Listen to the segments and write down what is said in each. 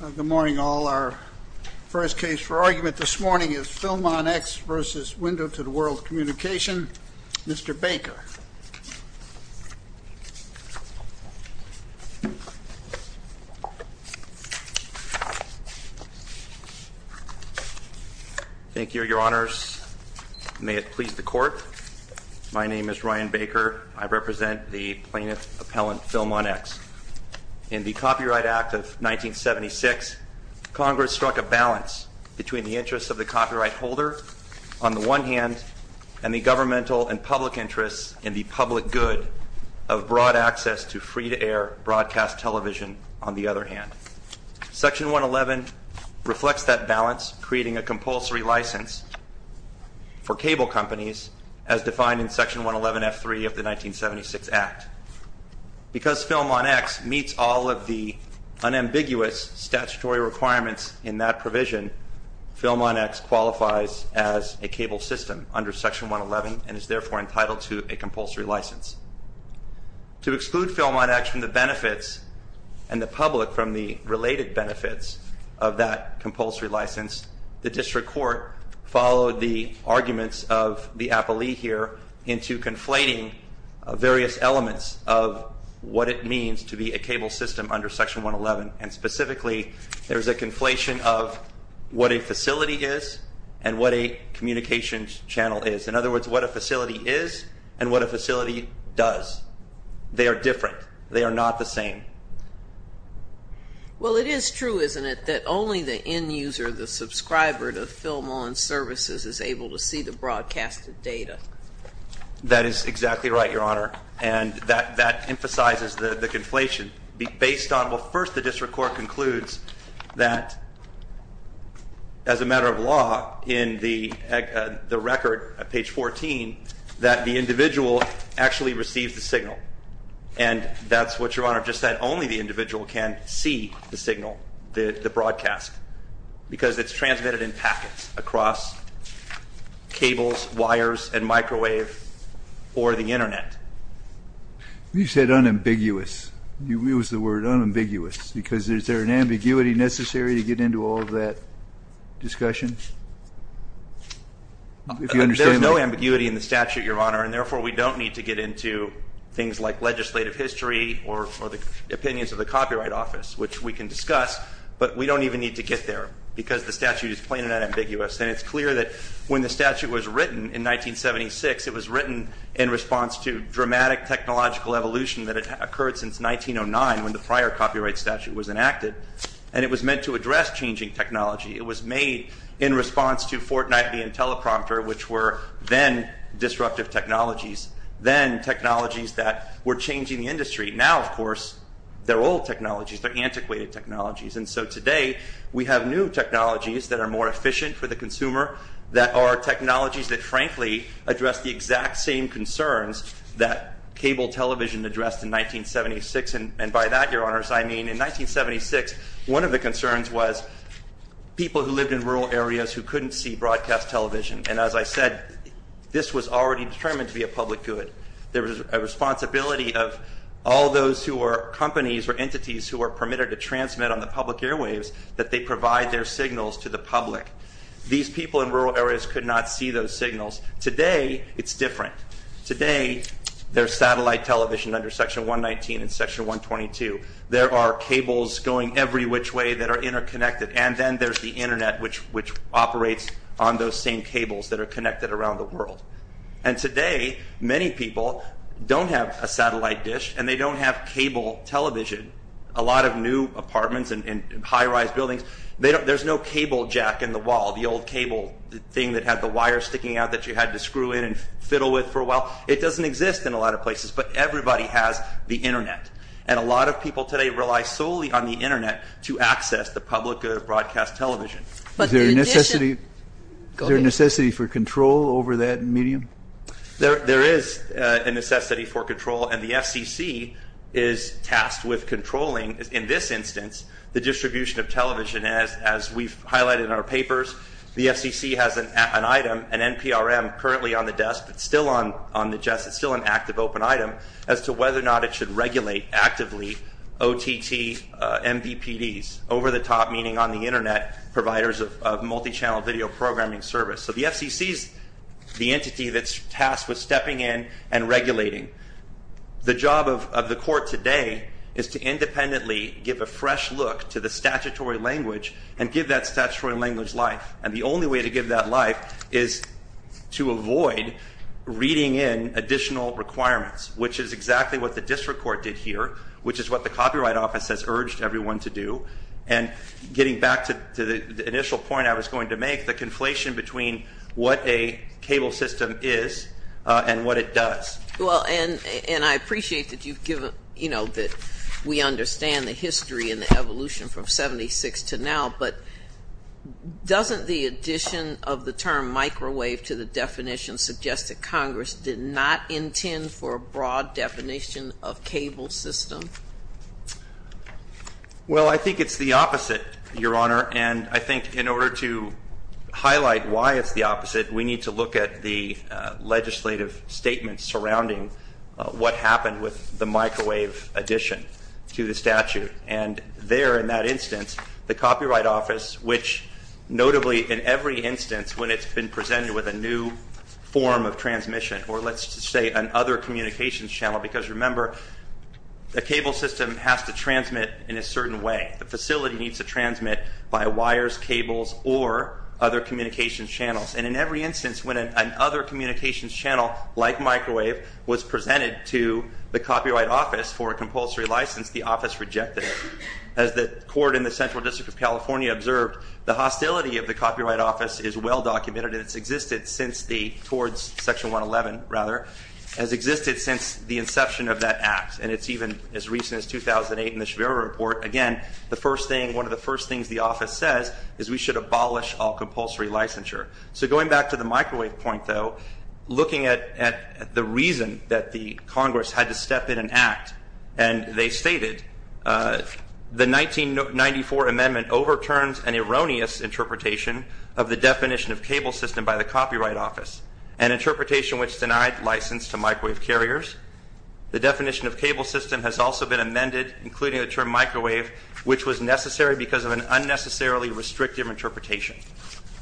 Good morning, all. Our first case for argument this morning is Film On X v. Window to the World Communication. Mr. Baker. Thank you, your honors. May it please the court. My name is Ryan Baker. I represent the plaintiff appellant Film On X. In the Copyright Act of 1976, Congress struck a balance between the interests of the copyright holder, on the one hand, and the governmental and public interests in the public good of broad access to free-to-air broadcast television, on the other hand. Section 111 reflects that balance, creating a compulsory license for cable companies as defined in Section 111F3 of the 1976 Act. Because Film On X meets all of the unambiguous statutory requirements in that provision, Film On X qualifies as a cable system under Section 111 and is therefore entitled to a compulsory license. To exclude Film On X from the benefits and the public from the related benefits of that compulsory license, the district court followed the arguments of the appellee here into conflating various elements of what it means to be a cable system under Section 111. And specifically, there's a conflation of what a facility is and what a communications channel is. In other words, what a facility is and what a facility does. They are different. They are not the same. Well, it is true, isn't it, that only the end user, the subscriber to Film On's services, is able to see the broadcasted data? That is exactly right, Your Honor. And that emphasizes the conflation. Based on, well, first the district court concludes that as a matter of law, in the record at page 14, that the individual actually receives the signal. And that's what Your Honor just said. Only the individual can see the signal, the broadcast. Because it's transmitted in packets across cables, wires, and microwave, or the internet. You said unambiguous. You used the word unambiguous. Because is there an ambiguity necessary to get into all of that discussion? There's no ambiguity in the statute, Your Honor. And therefore, we don't need to get into things like legislative history or the opinions of the Copyright Office, which we can discuss. But we don't even need to get there because the statute is plain and unambiguous. And it's clear that when the statute was written in 1976, it was written in response to dramatic technological evolution that had occurred since 1909, when the prior copyright statute was enacted. And it was meant to address changing technology. It was made in response to Fortnightly and Teleprompter, which were then disruptive technologies, then technologies that were changing the industry. Now, of course, they're old technologies. They're antiquated technologies. And so today, we have new technologies that are more efficient for the consumer, that are technologies that frankly address the exact same concerns that cable television addressed in 1976. And by that, Your Honors, I mean in 1976, one of the concerns was people who lived in rural areas who couldn't see broadcast television. And as I said, this was already determined to be a public good. There was a responsibility of all those who were companies or entities who were permitted to transmit on the public airwaves that they provide their signals to the public. These people in rural areas could not see those signals. Today, it's different. Today, there's satellite television under Section 119 and Section 122. There are cables going every which way that are interconnected. And then there's the Internet, which operates on those same cables that are connected around the world. And today, many people don't have a satellite dish, and they don't have cable television. A lot of new apartments and high-rise buildings, there's no cable jack in the wall, the old cable thing that had the wire sticking out that you had to screw in and fiddle with for a while. It doesn't exist in a lot of places, but everybody has the Internet. And a lot of people today rely solely on the Internet to access the public good of broadcast television. Is there a necessity for control over that medium? There is a necessity for control, and the FCC is tasked with controlling, in this instance, the distribution of television, as we've highlighted in our papers. The FCC has an item, an NPRM, currently on the desk, but still on the desk. It's still an active open item as to whether or not it should regulate actively OTT MVPDs, over-the-top, meaning on-the-Internet providers of multi-channel video programming service. So the FCC is the entity that's tasked with stepping in and regulating. The job of the court today is to independently give a fresh look to the statutory language and give that statutory language life. And the only way to give that life is to avoid reading in additional requirements, which is exactly what the district court did here, which is what the Copyright Office has urged everyone to do. And getting back to the initial point I was going to make, the conflation between what a cable system is and what it does. Well, and I appreciate that you've given, you know, that we understand the history and the evolution from 76 to now, but doesn't the addition of the term microwave to the definition suggest that Congress did not intend for a broad definition of cable system? Well, I think it's the opposite, Your Honor. And I think in order to highlight why it's the opposite, we need to look at the legislative statements surrounding what happened with the microwave addition to the statute. And there in that instance, the Copyright Office, which notably in every instance when it's been presented with a new form of transmission, or let's just say an other communications channel, because remember, the cable system has to transmit in a certain way. The facility needs to transmit by wires, cables, or other communications channels. And in every instance, when an other communications channel, like microwave, was presented to the Copyright Office for a compulsory license, the office rejected it. As the court in the Central District of California observed, the hostility of the Copyright Office is well documented and it's existed since the, towards Section 111, rather, has existed since the inception of that act. And it's even as recent as 2008 in the Shavira Report. Again, the first thing, one of the first things the office says is we should abolish all compulsory licensure. So going back to the microwave point, though, looking at the reason that the Congress had to step in and act, and they stated the 1994 amendment overturns an erroneous interpretation of the definition of cable system by the Copyright Office, an interpretation which denied license to microwave carriers. The definition of cable system has also been amended, including the term microwave, which was necessary because of an unnecessarily restrictive interpretation.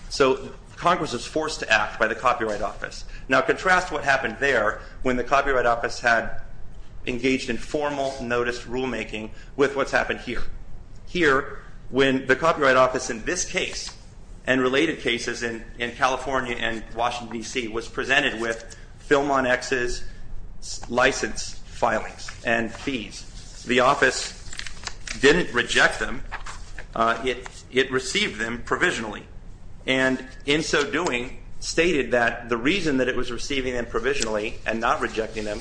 So Congress was forced to act by the Copyright Office. Now contrast what happened there when the Copyright Office had engaged in formal notice rulemaking with what's happened here. Here, when the Copyright Office in this case and related cases in California and Washington, D.C., was presented with Film on X's license filings and fees, the office didn't reject them. It received them provisionally. And in so doing, stated that the reason that it was receiving them provisionally and not rejecting them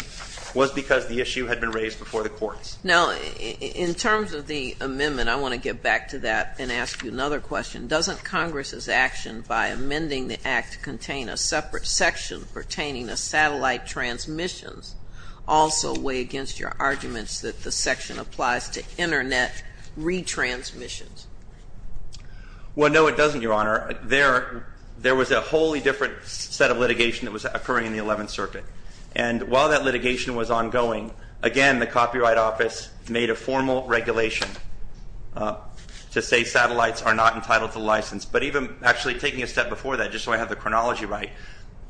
was because the issue had been raised before the courts. Now, in terms of the amendment, I want to get back to that and ask you another question. Doesn't Congress's action by amending the act contain a separate section pertaining to satellite transmissions also weigh against your arguments that the section applies to Internet retransmissions? Well, no, it doesn't, Your Honor. There was a wholly different set of litigation that was occurring in the 11th Circuit. And while that litigation was ongoing, again, the Copyright Office made a formal regulation to say satellites are not entitled to license. But even actually taking a step before that, just so I have the chronology right,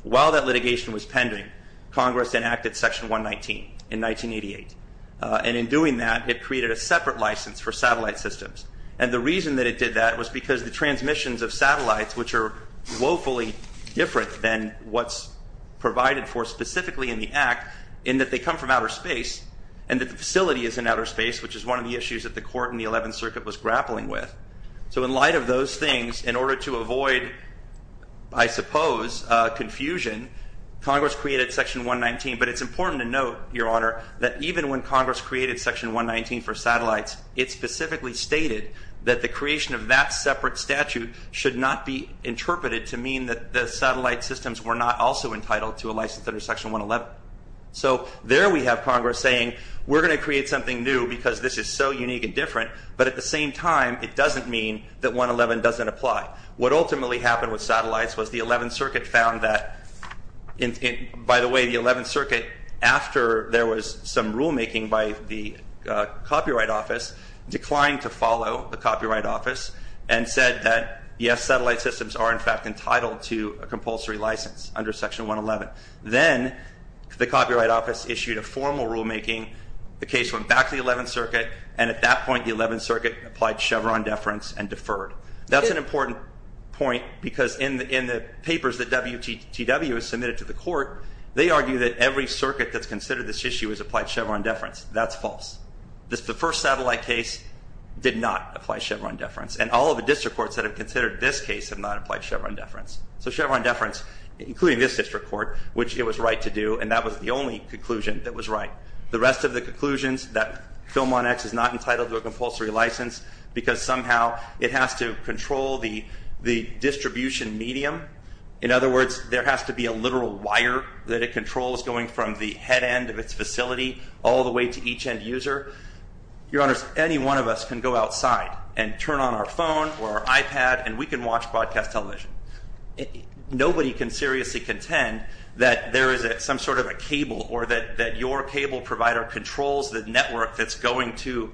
while that litigation was pending, Congress enacted Section 119 in 1988. And in doing that, it created a separate license for satellite systems. And the reason that it did that was because the transmissions of satellites, which are woefully different than what's provided for specifically in the act, in that they come from outer space and that the facility is in outer space, which is one of the issues that the court in the 11th Circuit was grappling with. So in light of those things, in order to avoid, I suppose, confusion, Congress created Section 119. But it's important to note, Your Honor, that even when Congress created Section 119 for satellites, it specifically stated that the creation of that separate statute should not be interpreted to mean that the satellite systems were not also entitled to a license under Section 111. So there we have Congress saying we're going to create something new because this is so unique and different, but at the same time, it doesn't mean that 111 doesn't apply. What ultimately happened with satellites was the 11th Circuit found that, by the way, the 11th Circuit, after there was some rulemaking by the Copyright Office, declined to follow the Copyright Office and said that, yes, satellite systems are in fact entitled to a compulsory license under Section 111. Then the Copyright Office issued a formal rulemaking. The case went back to the 11th Circuit, and at that point, the 11th Circuit applied Chevron deference and deferred. That's an important point because in the papers that WTTW has submitted to the court, they argue that every circuit that's considered this issue has applied Chevron deference. That's false. The first satellite case did not apply Chevron deference, and all of the district courts that have considered this case have not applied Chevron deference. So Chevron deference, including this district court, which it was right to do, and that was the only conclusion that was right. The rest of the conclusions, that Film On X is not entitled to a compulsory license because somehow it has to control the distribution medium. In other words, there has to be a literal wire that it controls going from the head end of its facility all the way to each end user. Your Honors, any one of us can go outside and turn on our phone or our iPad, and we can watch broadcast television. Nobody can seriously contend that there is some sort of a cable or that your cable provider controls the network that's going to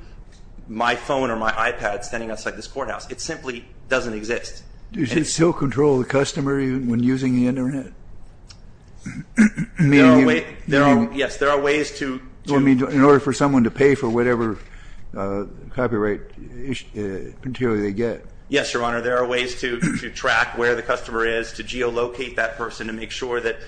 my phone or my iPad standing outside this courthouse. It simply doesn't exist. Does it still control the customer when using the Internet? Yes, there are ways to. In order for someone to pay for whatever copyright material they get. Yes, Your Honor, there are ways to track where the customer is, to geolocate that person and make sure that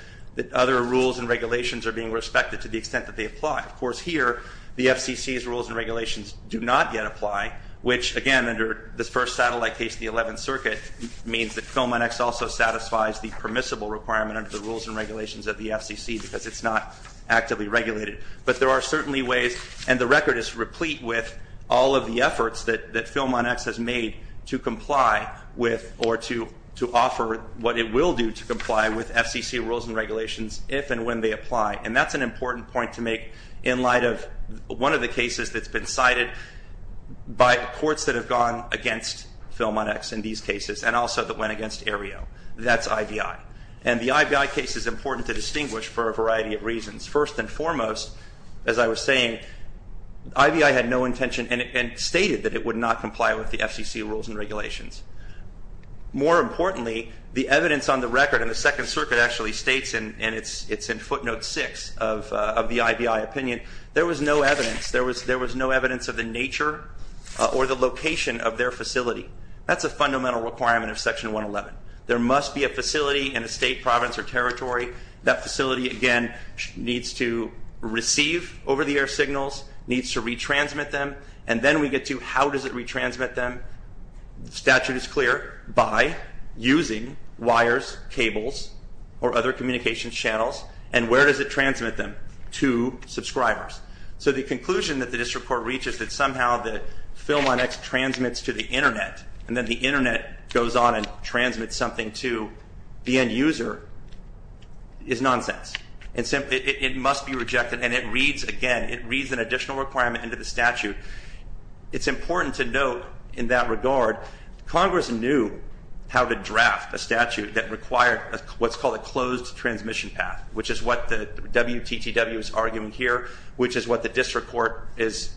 other rules and regulations are being respected to the extent that they apply. Of course, here, the FCC's rules and regulations do not yet apply, which, again, under this first satellite case in the 11th Circuit, means that Film On X also satisfies the permissible requirement under the rules and regulations of the FCC because it's not actively regulated. But there are certainly ways, and the record is replete with all of the efforts that Film On X has made to comply with or to offer what it will do to comply with FCC rules and regulations if and when they apply. And that's an important point to make in light of one of the cases that's been cited by courts that have gone against Film On X in these cases and also that went against Aereo. That's IVI. And the IVI case is important to distinguish for a variety of reasons. First and foremost, as I was saying, IVI had no intention and stated that it would not comply with the FCC rules and regulations. More importantly, the evidence on the record in the Second Circuit actually states, and it's in footnote 6 of the IVI opinion, there was no evidence. There was no evidence of the nature or the location of their facility. That's a fundamental requirement of Section 111. There must be a facility in a state, province, or territory. That facility, again, needs to receive over-the-air signals, needs to retransmit them, and then we get to how does it retransmit them. The statute is clear. By using wires, cables, or other communication channels. And where does it transmit them? To subscribers. So the conclusion that this report reaches is somehow that Film On X transmits to the Internet and then the Internet goes on and transmits something to the end user is nonsense. It must be rejected. And it reads, again, it reads an additional requirement into the statute. It's important to note in that regard Congress knew how to draft a statute that required what's called a closed transmission path, which is what the WTTW is arguing here, which is what the district court is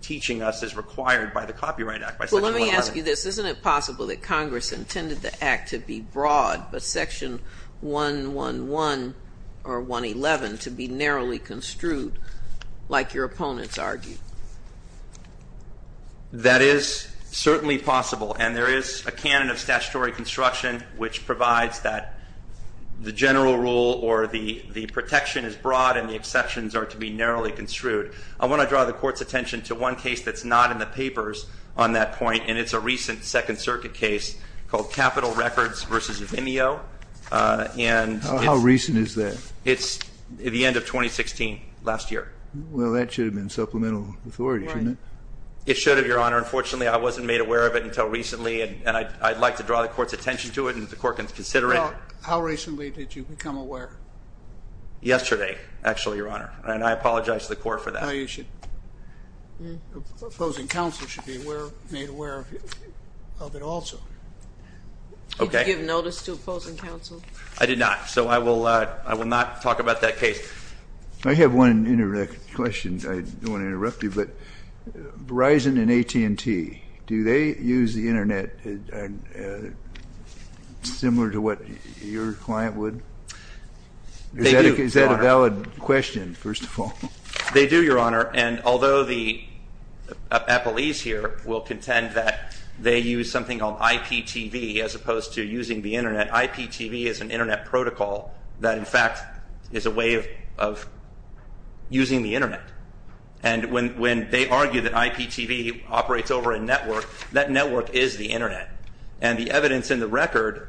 teaching us is required by the Copyright Act, by Section 111. Well, let me ask you this. Isn't it possible that Congress intended the act to be broad, but Section 111 or 111 to be narrowly construed, like your opponents argue? That is certainly possible, and there is a canon of statutory construction which provides that the general rule or the protection is broad and the exceptions are to be narrowly construed. I want to draw the Court's attention to one case that's not in the papers on that point, and it's a recent Second Circuit case called Capital Records v. IMEO. How recent is that? It's the end of 2016, last year. Well, that should have been supplemental authority, shouldn't it? It should have, Your Honor. Unfortunately, I wasn't made aware of it until recently, and I'd like to draw the Court's attention to it and the Court can consider it. Well, how recently did you become aware? Yesterday, actually, Your Honor, and I apologize to the Court for that. Opposing counsel should be made aware of it also. Okay. Did you give notice to opposing counsel? I did not, so I will not talk about that case. I have one question. I don't want to interrupt you, but Verizon and AT&T, do they use the Internet similar to what your client would? They do, Your Honor. Is that a valid question, first of all? They do, Your Honor, and although the appellees here will contend that they use something called IPTV as opposed to using the Internet, IPTV is an Internet protocol that, in fact, is a way of using the Internet. And when they argue that IPTV operates over a network, that network is the Internet, and the evidence in the record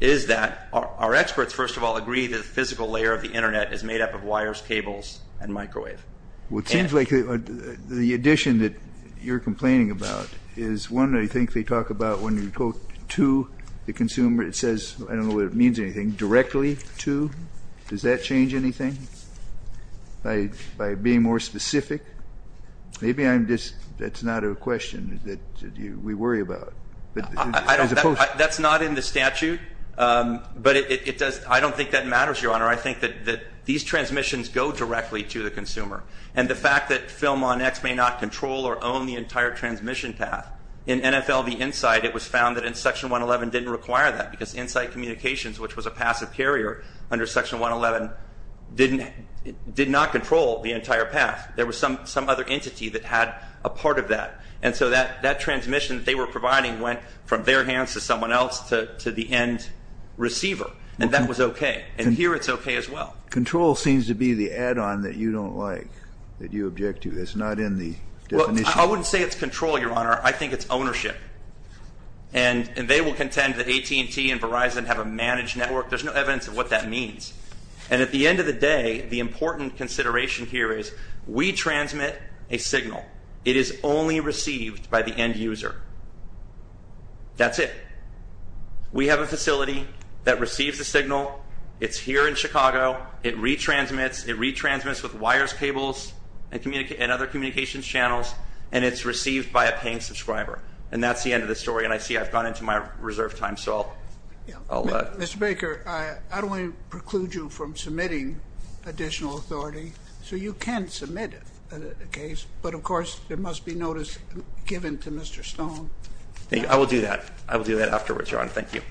is that our experts, first of all, agree that the physical layer of the Internet is made up of wires, cables, and microwave. Well, it seems like the addition that you're complaining about is, one, I think they talk about when you go to the consumer, it says, I don't know what it means or anything, directly to. Does that change anything by being more specific? Maybe that's not a question that we worry about. That's not in the statute, but I don't think that matters, Your Honor. I think that these transmissions go directly to the consumer, and the fact that PhilmonX may not control or own the entire transmission path, in NFL v. Insight it was found that in Section 111 didn't require that because Insight Communications, which was a passive carrier under Section 111, did not control the entire path. There was some other entity that had a part of that, and so that transmission that they were providing went from their hands to someone else to the end receiver, and that was okay. And here it's okay as well. Control seems to be the add-on that you don't like, that you object to. It's not in the definition. I wouldn't say it's control, Your Honor. I think it's ownership. And they will contend that AT&T and Verizon have a managed network. There's no evidence of what that means. And at the end of the day, the important consideration here is we transmit a signal. It is only received by the end user. That's it. We have a facility that receives a signal. It's here in Chicago. It retransmits. It retransmits with wires, cables, and other communications channels, and it's received by a paying subscriber. And that's the end of the story. And I see I've gone into my reserve time, so I'll let. Mr. Baker, I don't want to preclude you from submitting additional authority. So you can submit a case, but, of course, there must be notice given to Mr. Stone. I will do that. I will do that afterwards, Your Honor. Thank you.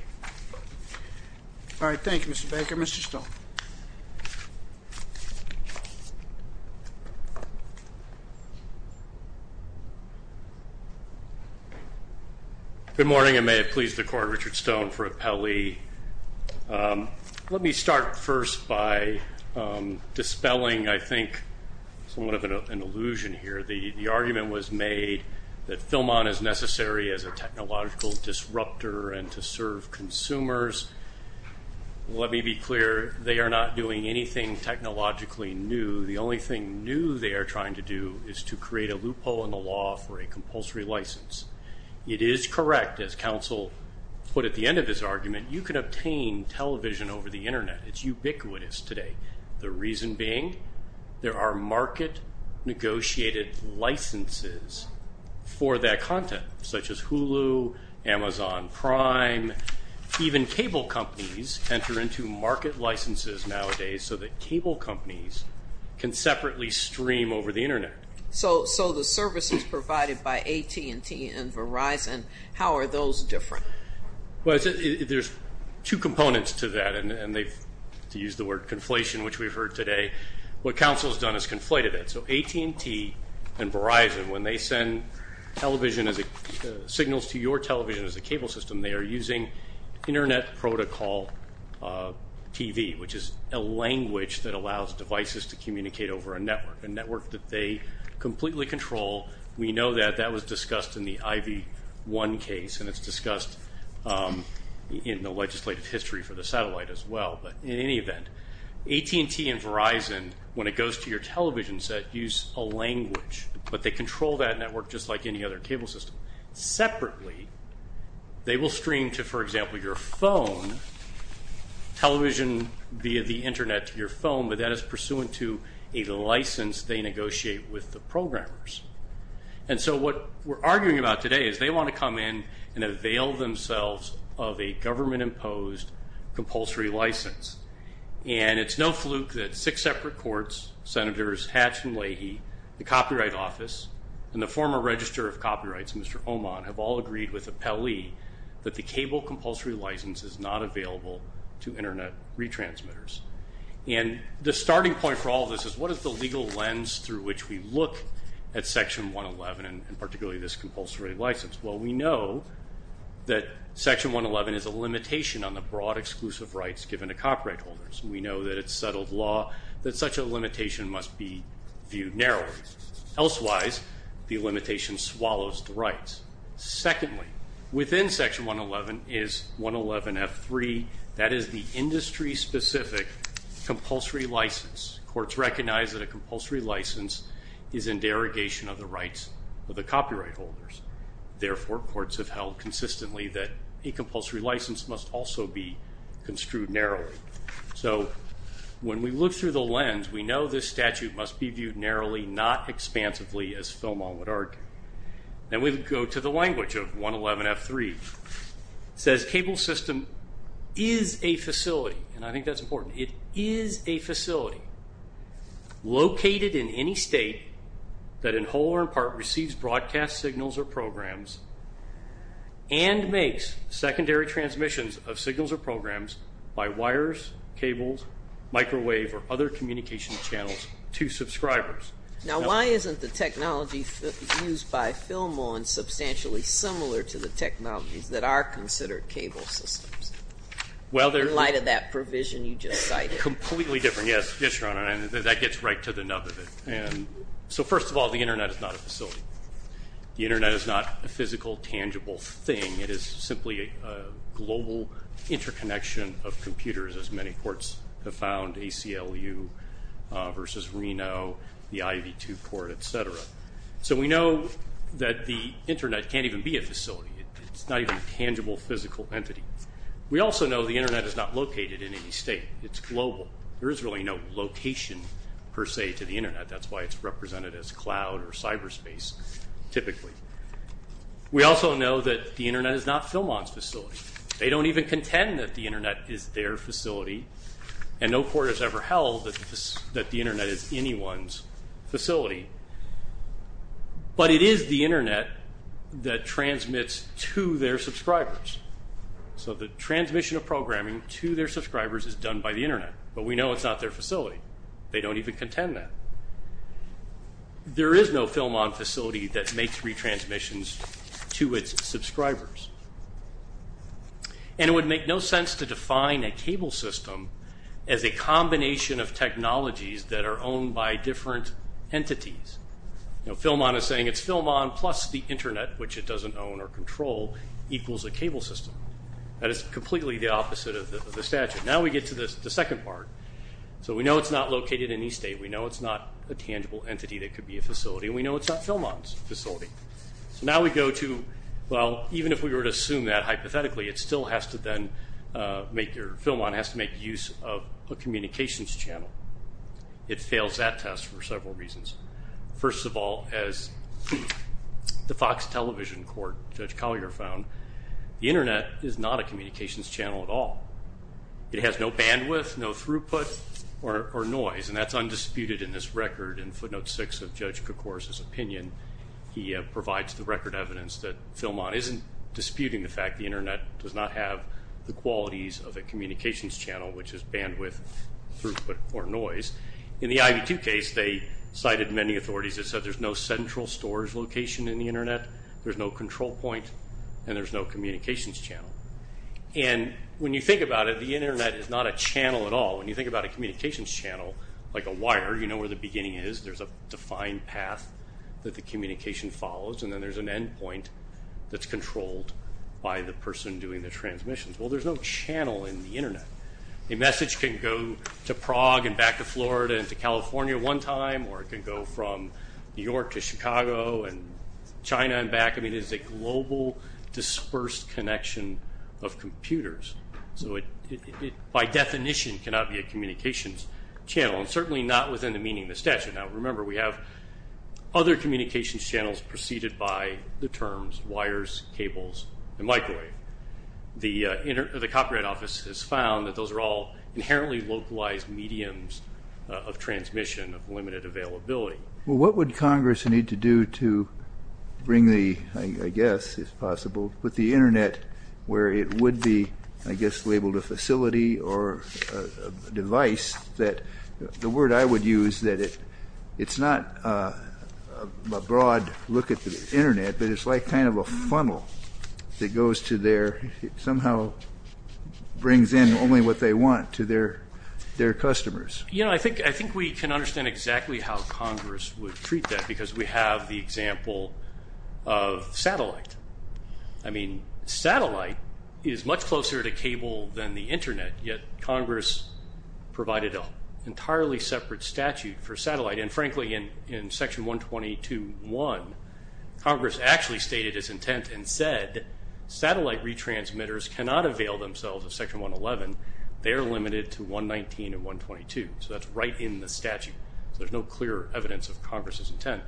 All right, thank you, Mr. Baker. Mr. Stone. Good morning, and may it please the Court, Richard Stone for appellee. Let me start first by dispelling, I think, somewhat of an illusion here. The argument was made that Philmon is necessary as a technological disruptor and to serve consumers. Let me be clear. They are not doing anything technologically new. The only thing new they are trying to do is to create a loophole in the law for a compulsory license. It is correct, as counsel put at the end of his argument, you can obtain television over the Internet. It's ubiquitous today. The reason being there are market-negotiated licenses for that content, such as Hulu, Amazon Prime. Even cable companies enter into market licenses nowadays so that cable companies can separately stream over the Internet. So the services provided by AT&T and Verizon, how are those different? Well, there's two components to that, and to use the word conflation, which we've heard today, what counsel has done is conflated it. So AT&T and Verizon, when they send signals to your television as a cable system, they are using Internet protocol TV, which is a language that allows devices to communicate over a network, a network that they completely control. We know that that was discussed in the IV-1 case, and it's discussed in the legislative history for the satellite as well. But in any event, AT&T and Verizon, when it goes to your television set, use a language, but they control that network just like any other cable system. Separately, they will stream to, for example, your phone, television via the Internet to your phone, but that is pursuant to a license they negotiate with the programmers. And so what we're arguing about today is they want to come in and avail themselves of a government-imposed compulsory license. And it's no fluke that six separate courts, senators Hatch and Leahy, the Copyright Office, and the former Register of Copyrights, Mr. Oman, have all agreed with Appellee that the cable compulsory license is not available to Internet retransmitters. And the starting point for all of this is what is the legal lens through which we look at Section 111 and particularly this compulsory license? Well, we know that Section 111 is a limitation on the broad exclusive rights given to copyright holders, and we know that it's settled law that such a limitation must be viewed narrowly. Secondly, within Section 111 is 111F3. That is the industry-specific compulsory license. Courts recognize that a compulsory license is in derogation of the rights of the copyright holders. Therefore, courts have held consistently that a compulsory license must also be construed narrowly. So when we look through the lens, we know this statute must be viewed narrowly, not expansively, as Philmon would argue. Then we go to the language of 111F3. It says, Cable system is a facility, and I think that's important, it is a facility located in any state that in whole or in part receives broadcast signals or programs and makes secondary transmissions of signals or programs by wires, cables, microwave, or other communication channels to subscribers. Now, why isn't the technology used by Philmon substantially similar to the technologies that are considered cable systems in light of that provision you just cited? Completely different, yes, Your Honor, and that gets right to the nub of it. So first of all, the Internet is not a facility. The Internet is not a physical, tangible thing. It is simply a global interconnection of computers, as many courts have found, ACLU versus Reno, the IV-2 court, et cetera. So we know that the Internet can't even be a facility. It's not even a tangible, physical entity. We also know the Internet is not located in any state. It's global. There is really no location, per se, to the Internet. That's why it's represented as cloud or cyberspace, typically. We also know that the Internet is not Philmon's facility. They don't even contend that the Internet is their facility, and no court has ever held that the Internet is anyone's facility. But it is the Internet that transmits to their subscribers. So the transmission of programming to their subscribers is done by the Internet, but we know it's not their facility. They don't even contend that. There is no Philmon facility that makes retransmissions to its subscribers. And it would make no sense to define a cable system as a combination of technologies that are owned by different entities. Philmon is saying it's Philmon plus the Internet, which it doesn't own or control, equals a cable system. That is completely the opposite of the statute. Now we get to the second part. So we know it's not located in any state. We know it's not a tangible entity that could be a facility, and we know it's not Philmon's facility. So now we go to, well, even if we were to assume that hypothetically, Philmon has to make use of a communications channel. It fails that test for several reasons. First of all, as the Fox Television court, Judge Collier, found, the Internet is not a communications channel at all. It has no bandwidth, no throughput or noise, and that's undisputed in this record. In footnote 6 of Judge Kerkhorse's opinion, he provides the record evidence that Philmon isn't disputing the fact the Internet does not have the qualities of a communications channel, which is bandwidth, throughput or noise. In the IV-2 case, they cited many authorities that said there's no central storage location in the Internet, there's no control point, and there's no communications channel. And when you think about it, the Internet is not a channel at all. When you think about a communications channel, like a wire, you know where the beginning is. There's a defined path that the communication follows, and then there's an endpoint that's controlled by the person doing the transmissions. Well, there's no channel in the Internet. A message can go to Prague and back to Florida and to California one time, or it can go from New York to Chicago and China and back. I mean, it is a global, dispersed connection of computers. So it by definition cannot be a communications channel, and certainly not within the meaning of the statute. Now, remember, we have other communications channels preceded by the terms wires, cables, and microwave. The Copyright Office has found that those are all inherently localized mediums of transmission, of limited availability. Well, what would Congress need to do to bring the, I guess, if possible, put the Internet where it would be, I guess, labeled a facility or a device that, the word I would use that it's not a broad look at the Internet, but it's like kind of a funnel that goes to their, somehow brings in only what they want to their customers. You know, I think we can understand exactly how Congress would treat that, because we have the example of satellite. I mean, satellite is much closer to cable than the Internet, yet Congress provided an entirely separate statute for satellite. And frankly, in Section 122.1, Congress actually stated its intent and said satellite retransmitters cannot avail themselves of Section 111. They are limited to 119 and 122. So that's right in the statute. So there's no clear evidence of Congress's intent.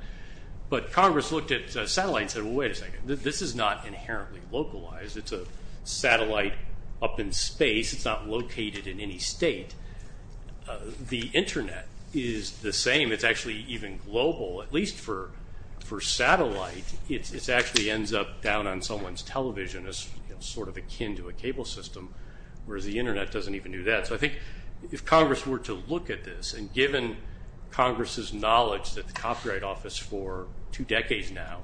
But Congress looked at satellite and said, well, wait a second. This is not inherently localized. It's a satellite up in space. It's not located in any state. The Internet is the same. It's actually even global, at least for satellite. It actually ends up down on someone's television as sort of akin to a cable system, whereas the Internet doesn't even do that. So I think if Congress were to look at this, and given Congress's knowledge that the Copyright Office for two decades now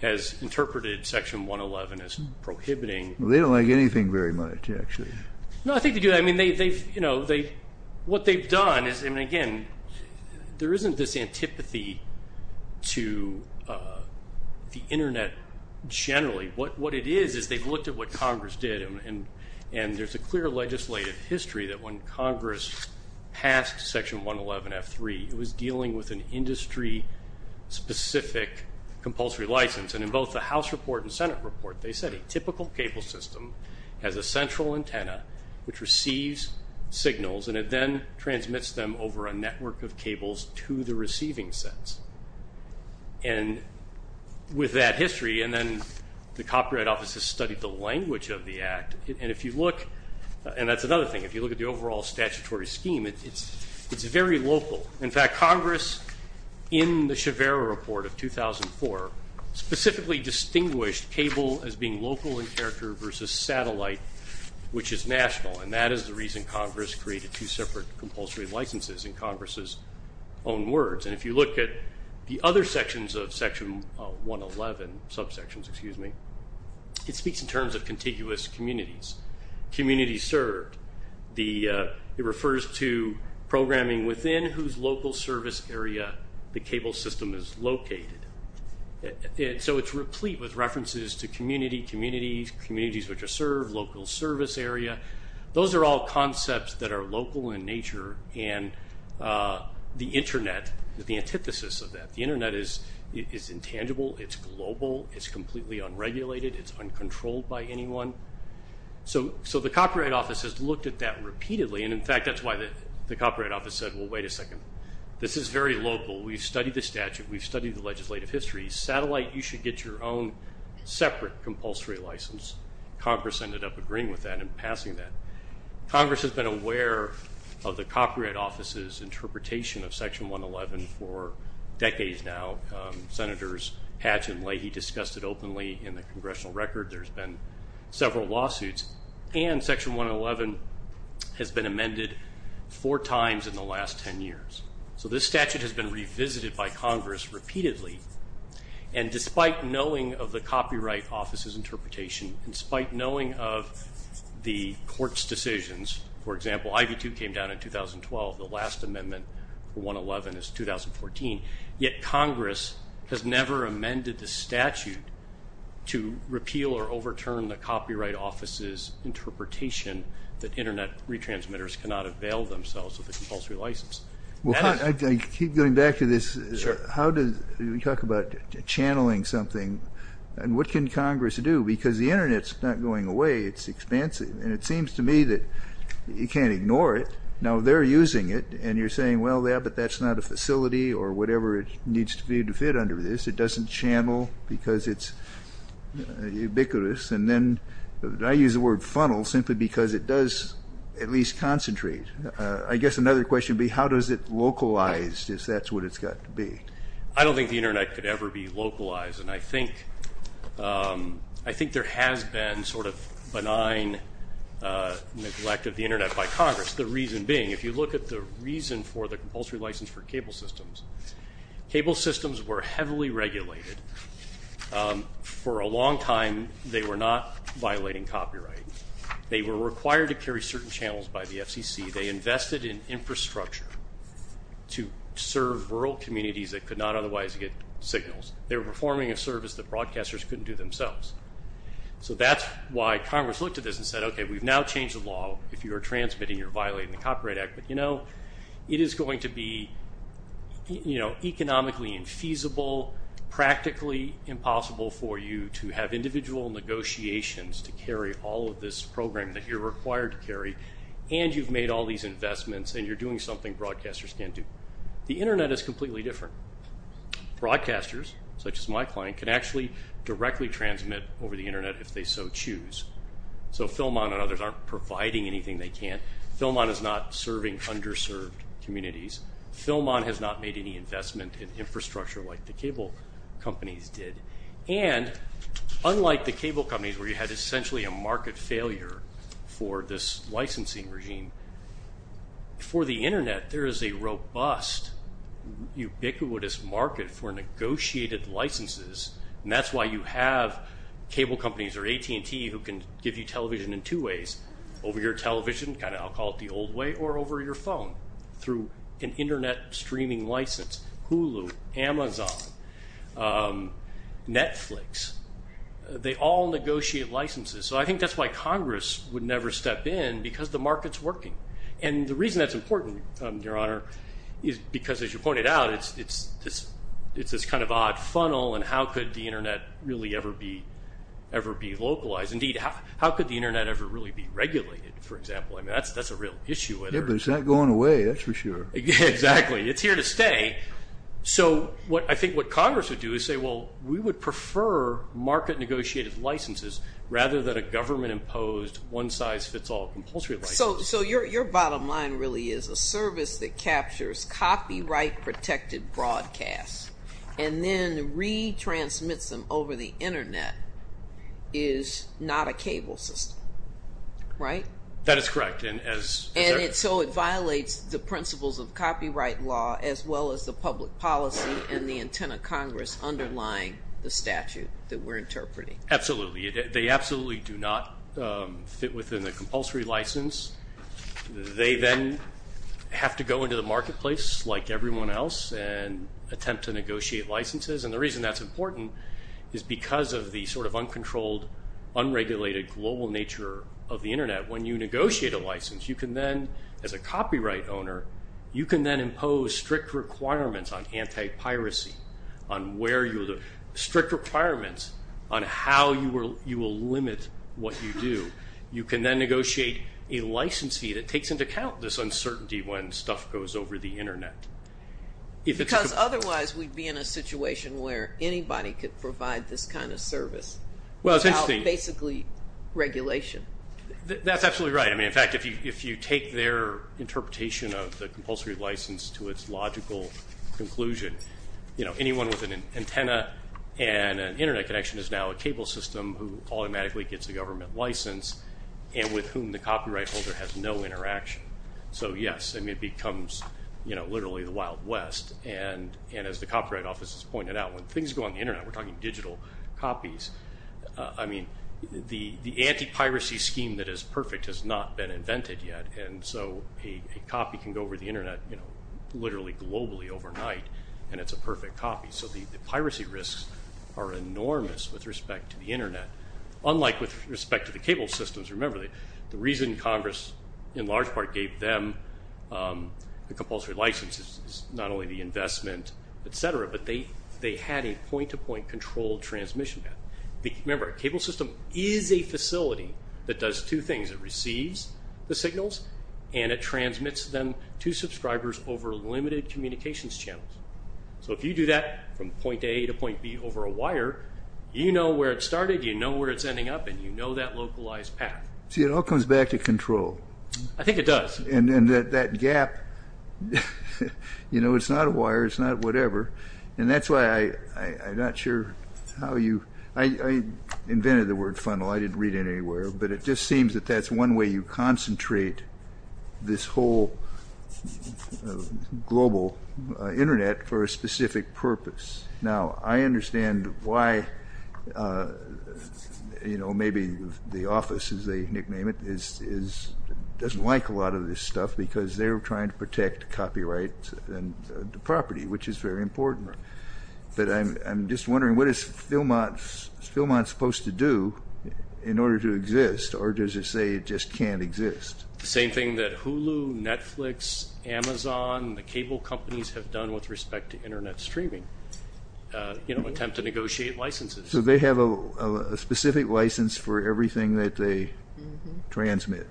has interpreted Section 111 as prohibiting. They don't like anything very much, actually. No, I think they do. I mean, what they've done is, I mean, again, there isn't this antipathy to the Internet generally. What it is is they've looked at what Congress did, and there's a clear legislative history that when Congress passed Section 111F3, it was dealing with an industry-specific compulsory license. And in both the House report and Senate report, they said a typical cable system has a central antenna which receives signals, and it then transmits them over a network of cables to the receiving sets. And with that history, and then the Copyright Office has studied the language of the Act, and if you look, and that's another thing, if you look at the overall statutory scheme, it's very local. In fact, Congress, in the Shivera report of 2004, specifically distinguished cable as being local in character versus satellite, which is national, and that is the reason Congress created two separate compulsory licenses in Congress's own words. And if you look at the other sections of Section 111, subsections, excuse me, it speaks in terms of contiguous communities, communities served. It refers to programming within whose local service area the cable system is located. So it's replete with references to community, communities, communities which are served, local service area. Those are all concepts that are local in nature, and the Internet is the antithesis of that. The Internet is intangible. It's global. It's completely unregulated. It's uncontrolled by anyone. So the Copyright Office has looked at that repeatedly, and, in fact, that's why the Copyright Office said, well, wait a second, this is very local. We've studied the statute. We've studied the legislative history. Satellite, you should get your own separate compulsory license. Congress ended up agreeing with that and passing that. Congress has been aware of the Copyright Office's interpretation of Section 111 for decades now. Senators Hatch and Leahy discussed it openly in the congressional record. There's been several lawsuits. And Section 111 has been amended four times in the last ten years. So this statute has been revisited by Congress repeatedly, and despite knowing of the Copyright Office's interpretation, despite knowing of the court's decisions, for example, IV-2 came down in 2012, the last amendment for 111 is 2014, yet Congress has never amended the statute to repeal or overturn the Copyright Office's interpretation that Internet retransmitters cannot avail themselves of the compulsory license. Well, I keep going back to this. How do we talk about channeling something? And what can Congress do? Because the Internet's not going away. It's expansive. And it seems to me that you can't ignore it. Now they're using it, and you're saying, well, yeah, but that's not a facility or whatever it needs to be to fit under this. It doesn't channel because it's ubiquitous. And then I use the word funnel simply because it does at least concentrate. I guess another question would be how does it localize, if that's what it's got to be? I don't think the Internet could ever be localized. And I think there has been sort of benign neglect of the Internet by Congress, the reason being, if you look at the reason for the compulsory license for cable systems, cable systems were heavily regulated. For a long time they were not violating copyright. They were required to carry certain channels by the FCC. They invested in infrastructure to serve rural communities that could not otherwise get signals. They were performing a service that broadcasters couldn't do themselves. So that's why Congress looked at this and said, okay, we've now changed the law. If you are transmitting, you're violating the Copyright Act. But, you know, it is going to be, you know, economically infeasible, practically impossible for you to have individual negotiations to carry all of this program that you're required to carry, and you've made all these investments and you're doing something broadcasters can't do. The Internet is completely different. Broadcasters, such as my client, can actually directly transmit over the Internet if they so choose. So Philmon and others aren't providing anything they can't. Philmon is not serving underserved communities. Philmon has not made any investment in infrastructure like the cable companies did. And unlike the cable companies where you had essentially a market failure for this licensing regime, for the Internet there is a robust, ubiquitous market for negotiated licenses, and that's why you have cable companies or AT&T who can give you television in two ways, over your television, kind of I'll call it the old way, or over your phone through an Internet streaming license, Hulu, Amazon. Netflix. They all negotiate licenses. So I think that's why Congress would never step in, because the market's working. And the reason that's important, Your Honor, is because as you pointed out it's this kind of odd funnel and how could the Internet really ever be localized? Indeed, how could the Internet ever really be regulated, for example? I mean, that's a real issue. Yeah, but it's not going away, that's for sure. Exactly. It's here to stay. So I think what Congress would do is say, well, we would prefer market negotiated licenses rather than a government-imposed, one-size-fits-all compulsory license. So your bottom line really is a service that captures copyright-protected broadcasts and then re-transmits them over the Internet is not a cable system, right? That is correct. And so it violates the principles of copyright law as well as the public policy and the intent of Congress underlying the statute that we're interpreting. Absolutely. They absolutely do not fit within the compulsory license. They then have to go into the marketplace, like everyone else, and attempt to negotiate licenses. And the reason that's important is because of the sort of uncontrolled, unregulated global nature of the Internet. When you negotiate a license, you can then, as a copyright owner, you can then impose strict requirements on anti-piracy, on where you'll do it, strict requirements on how you will limit what you do. You can then negotiate a licensee that takes into account this uncertainty when stuff goes over the Internet. Because otherwise we'd be in a situation where anybody could provide this kind of service without basically regulation. That's absolutely right. In fact, if you take their interpretation of the compulsory license to its logical conclusion, anyone with an antenna and an Internet connection is now a cable system who automatically gets a government license and with whom the copyright holder has no interaction. So, yes, it becomes literally the Wild West. And as the Copyright Office has pointed out, when things go on the Internet, we're talking digital copies, I mean, the anti-piracy scheme that is perfect has not been invented yet, and so a copy can go over the Internet literally globally overnight and it's a perfect copy. So the piracy risks are enormous with respect to the Internet, unlike with respect to the cable systems. Remember, the reason Congress in large part gave them the compulsory license is not only the investment, et cetera, but they had a point-to-point controlled transmission. Remember, a cable system is a facility that does two things. It receives the signals and it transmits them to subscribers over limited communications channels. So if you do that from point A to point B over a wire, you know where it started, you know where it's ending up, and you know that localized path. See, it all comes back to control. I think it does. And that gap, you know, it's not a wire, it's not whatever, and that's why I'm not sure how you... I invented the word funnel. I didn't read it anywhere, but it just seems that that's one way you concentrate this whole global Internet for a specific purpose. Now, I understand why, you know, maybe the office, as they nickname it, doesn't like a lot of this stuff because they're trying to protect copyright and property, which is very important. But I'm just wondering, what is Philmont supposed to do in order to exist, or does it say it just can't exist? The same thing that Hulu, Netflix, Amazon, the cable companies have done with respect to Internet streaming, you know, attempt to negotiate licenses. So they have a specific license for everything that they transmit.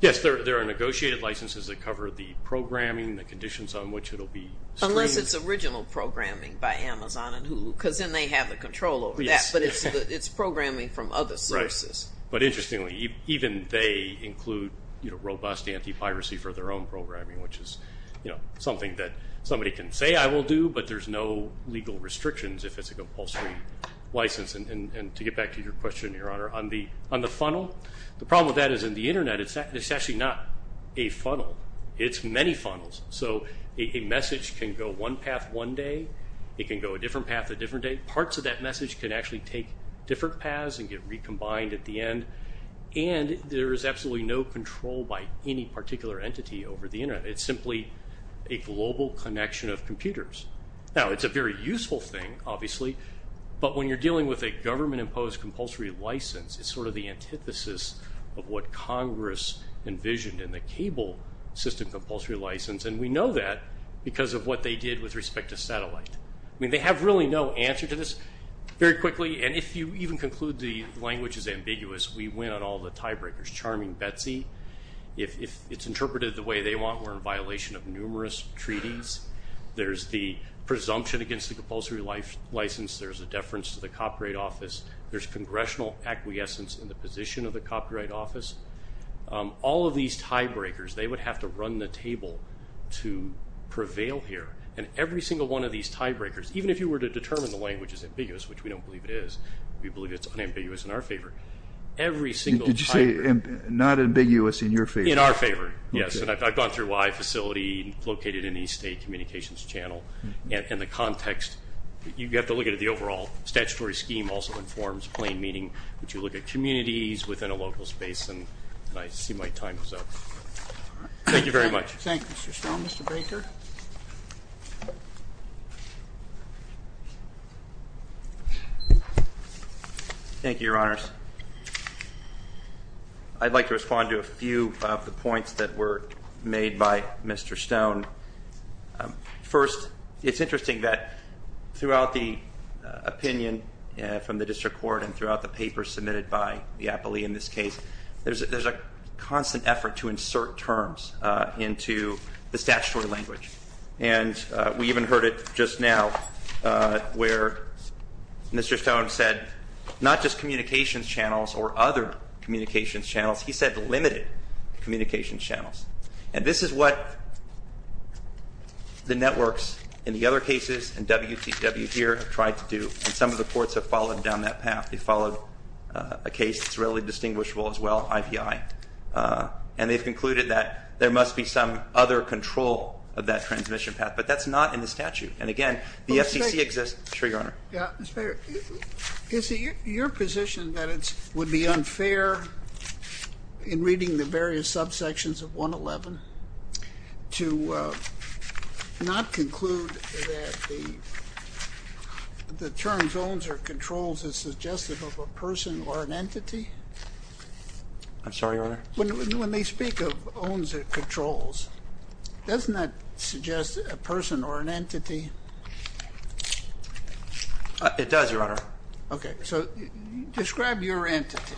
Yes, there are negotiated licenses that cover the programming, the conditions on which it'll be streamed. Unless it's original programming by Amazon and Hulu, because then they have the control over that, but it's programming from other sources. Right, but interestingly, even they include, you know, robust anti-piracy for their own programming, which is, you know, something that somebody can say I will do, but there's no legal restrictions if it's a compulsory license. And to get back to your question, Your Honor, on the funnel, the problem with that is in the Internet, it's actually not a funnel, it's many funnels. So a message can go one path one day, it can go a different path a different day. Parts of that message can actually take different paths and get recombined at the end, and there is absolutely no control by any particular entity over the Internet. It's simply a global connection of computers. Now, it's a very useful thing, obviously, but when you're dealing with a government-imposed compulsory license, it's sort of the antithesis of what Congress envisioned in the cable system compulsory license, and we know that because of what they did with respect to satellite. I mean, they have really no answer to this. Very quickly, and if you even conclude the language is ambiguous, we win on all the tiebreakers. Charming Betsy, if it's interpreted the way they want, we're in violation of numerous treaties. There's the presumption against the compulsory license. There's a deference to the Copyright Office. There's congressional acquiescence in the position of the Copyright Office. All of these tiebreakers, they would have to run the table to prevail here, and every single one of these tiebreakers, even if you were to determine the language is ambiguous, which we don't believe it is. We believe it's unambiguous in our favor. Every single tiebreaker. Did you say not ambiguous in your favor? In our favor, yes, and I've gone through Y facility, located in East State Communications Channel, and the context. You have to look at it. The overall statutory scheme also informs plain meaning. But you look at communities within a local space, and I see my time is up. Thank you very much. Thank you, Mr. Stone. Mr. Baker? Thank you, Your Honors. I'd like to respond to a few of the points that were made by Mr. Stone. First, it's interesting that throughout the opinion from the district court and throughout the papers submitted by the appellee in this case, there's a constant effort to insert terms into the statutory language. And we even heard it just now where Mr. Stone said, not just communications channels or other communications channels, he said limited communications channels. And this is what the networks in the other cases and WTW here have tried to do, and some of the courts have followed down that path. They've followed a case that's really distinguishable as well, IPI, and they've concluded that there must be some other control of that transmission path, but that's not in the statute. And, again, the FCC exists. Sure, Your Honor. Mr. Baker, is it your position that it would be unfair in reading the various subsections of 111 to not conclude that the terms owns or controls is suggestive of a person or an entity? I'm sorry, Your Honor? When they speak of owns or controls, doesn't that suggest a person or an entity? It does, Your Honor. Okay. So describe your entity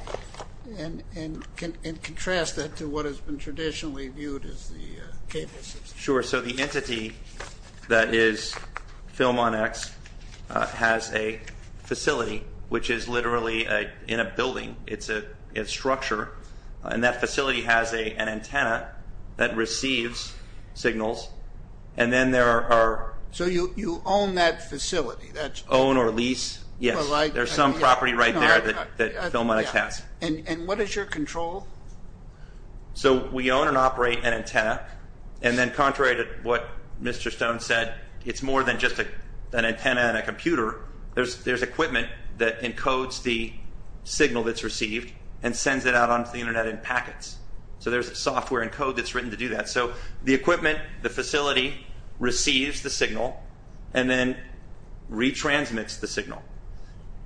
and contrast that to what has been traditionally viewed as the cable system. Sure. So the entity that is film on X has a facility, which is literally in a building. It's a structure. And that facility has an antenna that receives signals. So you own that facility? Own or lease, yes. There's some property right there that film on X has. And what is your control? So we own and operate an antenna, and then contrary to what Mr. Stone said, it's more than just an antenna and a computer. There's equipment that encodes the signal that's received and sends it out onto the Internet in packets. So there's software and code that's written to do that. So the equipment, the facility, receives the signal and then retransmits the signal.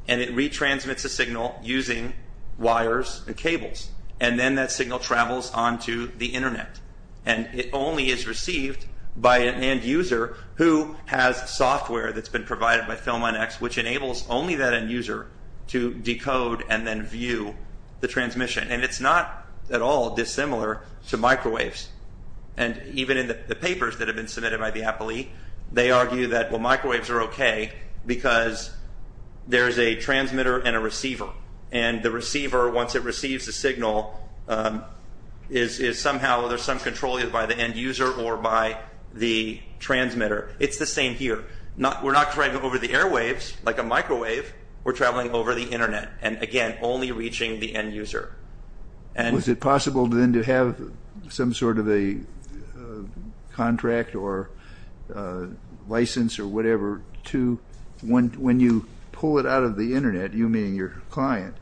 And it retransmits the signal using wires and cables, and then that signal travels onto the Internet. And it only is received by an end user who has software that's been provided by film on X, which enables only that end user to decode and then view the transmission. And it's not at all dissimilar to microwaves. And even in the papers that have been submitted by the Appli, they argue that microwaves are okay because there's a transmitter and a receiver. And the receiver, once it receives the signal, is somehow, there's some control either by the end user or by the transmitter. It's the same here. We're not traveling over the airwaves like a microwave. We're traveling over the Internet and, again, only reaching the end user. Was it possible then to have some sort of a contract or license or whatever to, when you pull it out of the Internet, you meaning your client,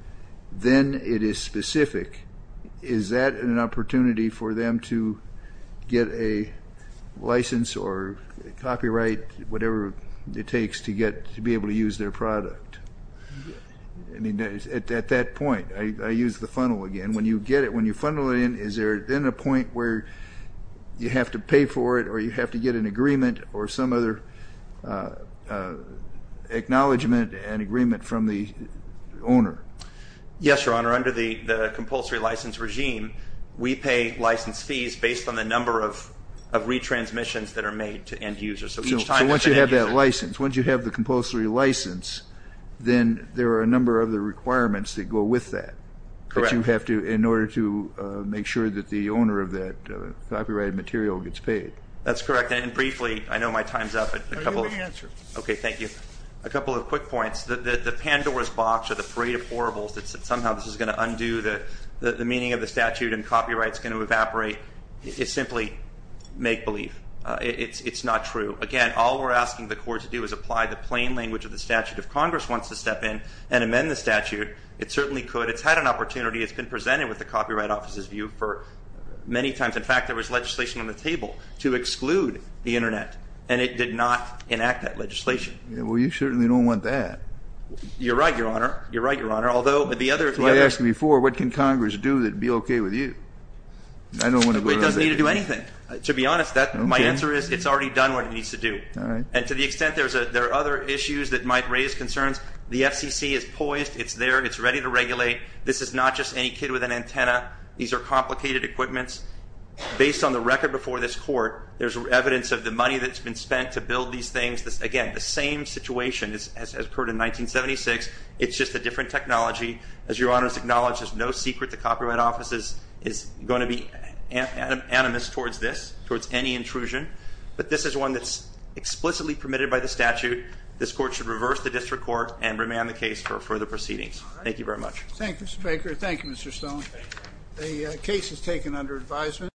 then it is specific. Is that an opportunity for them to get a license or copyright, whatever it takes to be able to use their product? I mean, at that point, I use the funnel again. When you get it, when you funnel it in, is there then a point where you have to pay for it or you have to get an agreement or some other acknowledgment and agreement from the owner? Yes, Your Honor. Under the compulsory license regime, we pay license fees based on the number of retransmissions that are made to end users. So once you have that license, once you have the compulsory license, then there are a number of other requirements that go with that. Correct. But you have to, in order to make sure that the owner of that copyrighted material gets paid. That's correct. And briefly, I know my time is up. I'll give you an answer. Okay, thank you. A couple of quick points. The Pandora's box or the parade of horribles that somehow this is going to undo the meaning of the statute and copyright is going to evaporate is simply make-believe. It's not true. Again, all we're asking the court to do is apply the plain language of the statute. If Congress wants to step in and amend the statute, it certainly could. It's had an opportunity. It's been presented with the Copyright Office's view for many times. In fact, there was legislation on the table to exclude the Internet, and it did not enact that legislation. Well, you certainly don't want that. You're right, Your Honor. You're right, Your Honor. Although the other is what I asked you before. What can Congress do that would be okay with you? I don't want to go to that. It doesn't need to do anything. To be honest, my answer is it's already done what it needs to do. All right. And to the extent there are other issues that might raise concerns, the FCC is poised. It's there. It's ready to regulate. This is not just any kid with an antenna. These are complicated equipments. Based on the record before this court, there's evidence of the money that's been spent to build these things. Again, the same situation has occurred in 1976. It's just a different technology. As Your Honor has acknowledged, there's no secret the Copyright Office is going to be animus towards this, towards any intrusion. But this is one that's explicitly permitted by the statute. This court should reverse the district court and remand the case for further proceedings. Thank you very much. Thank you, Mr. Baker. Thank you, Mr. Stone. The case is taken under advisement.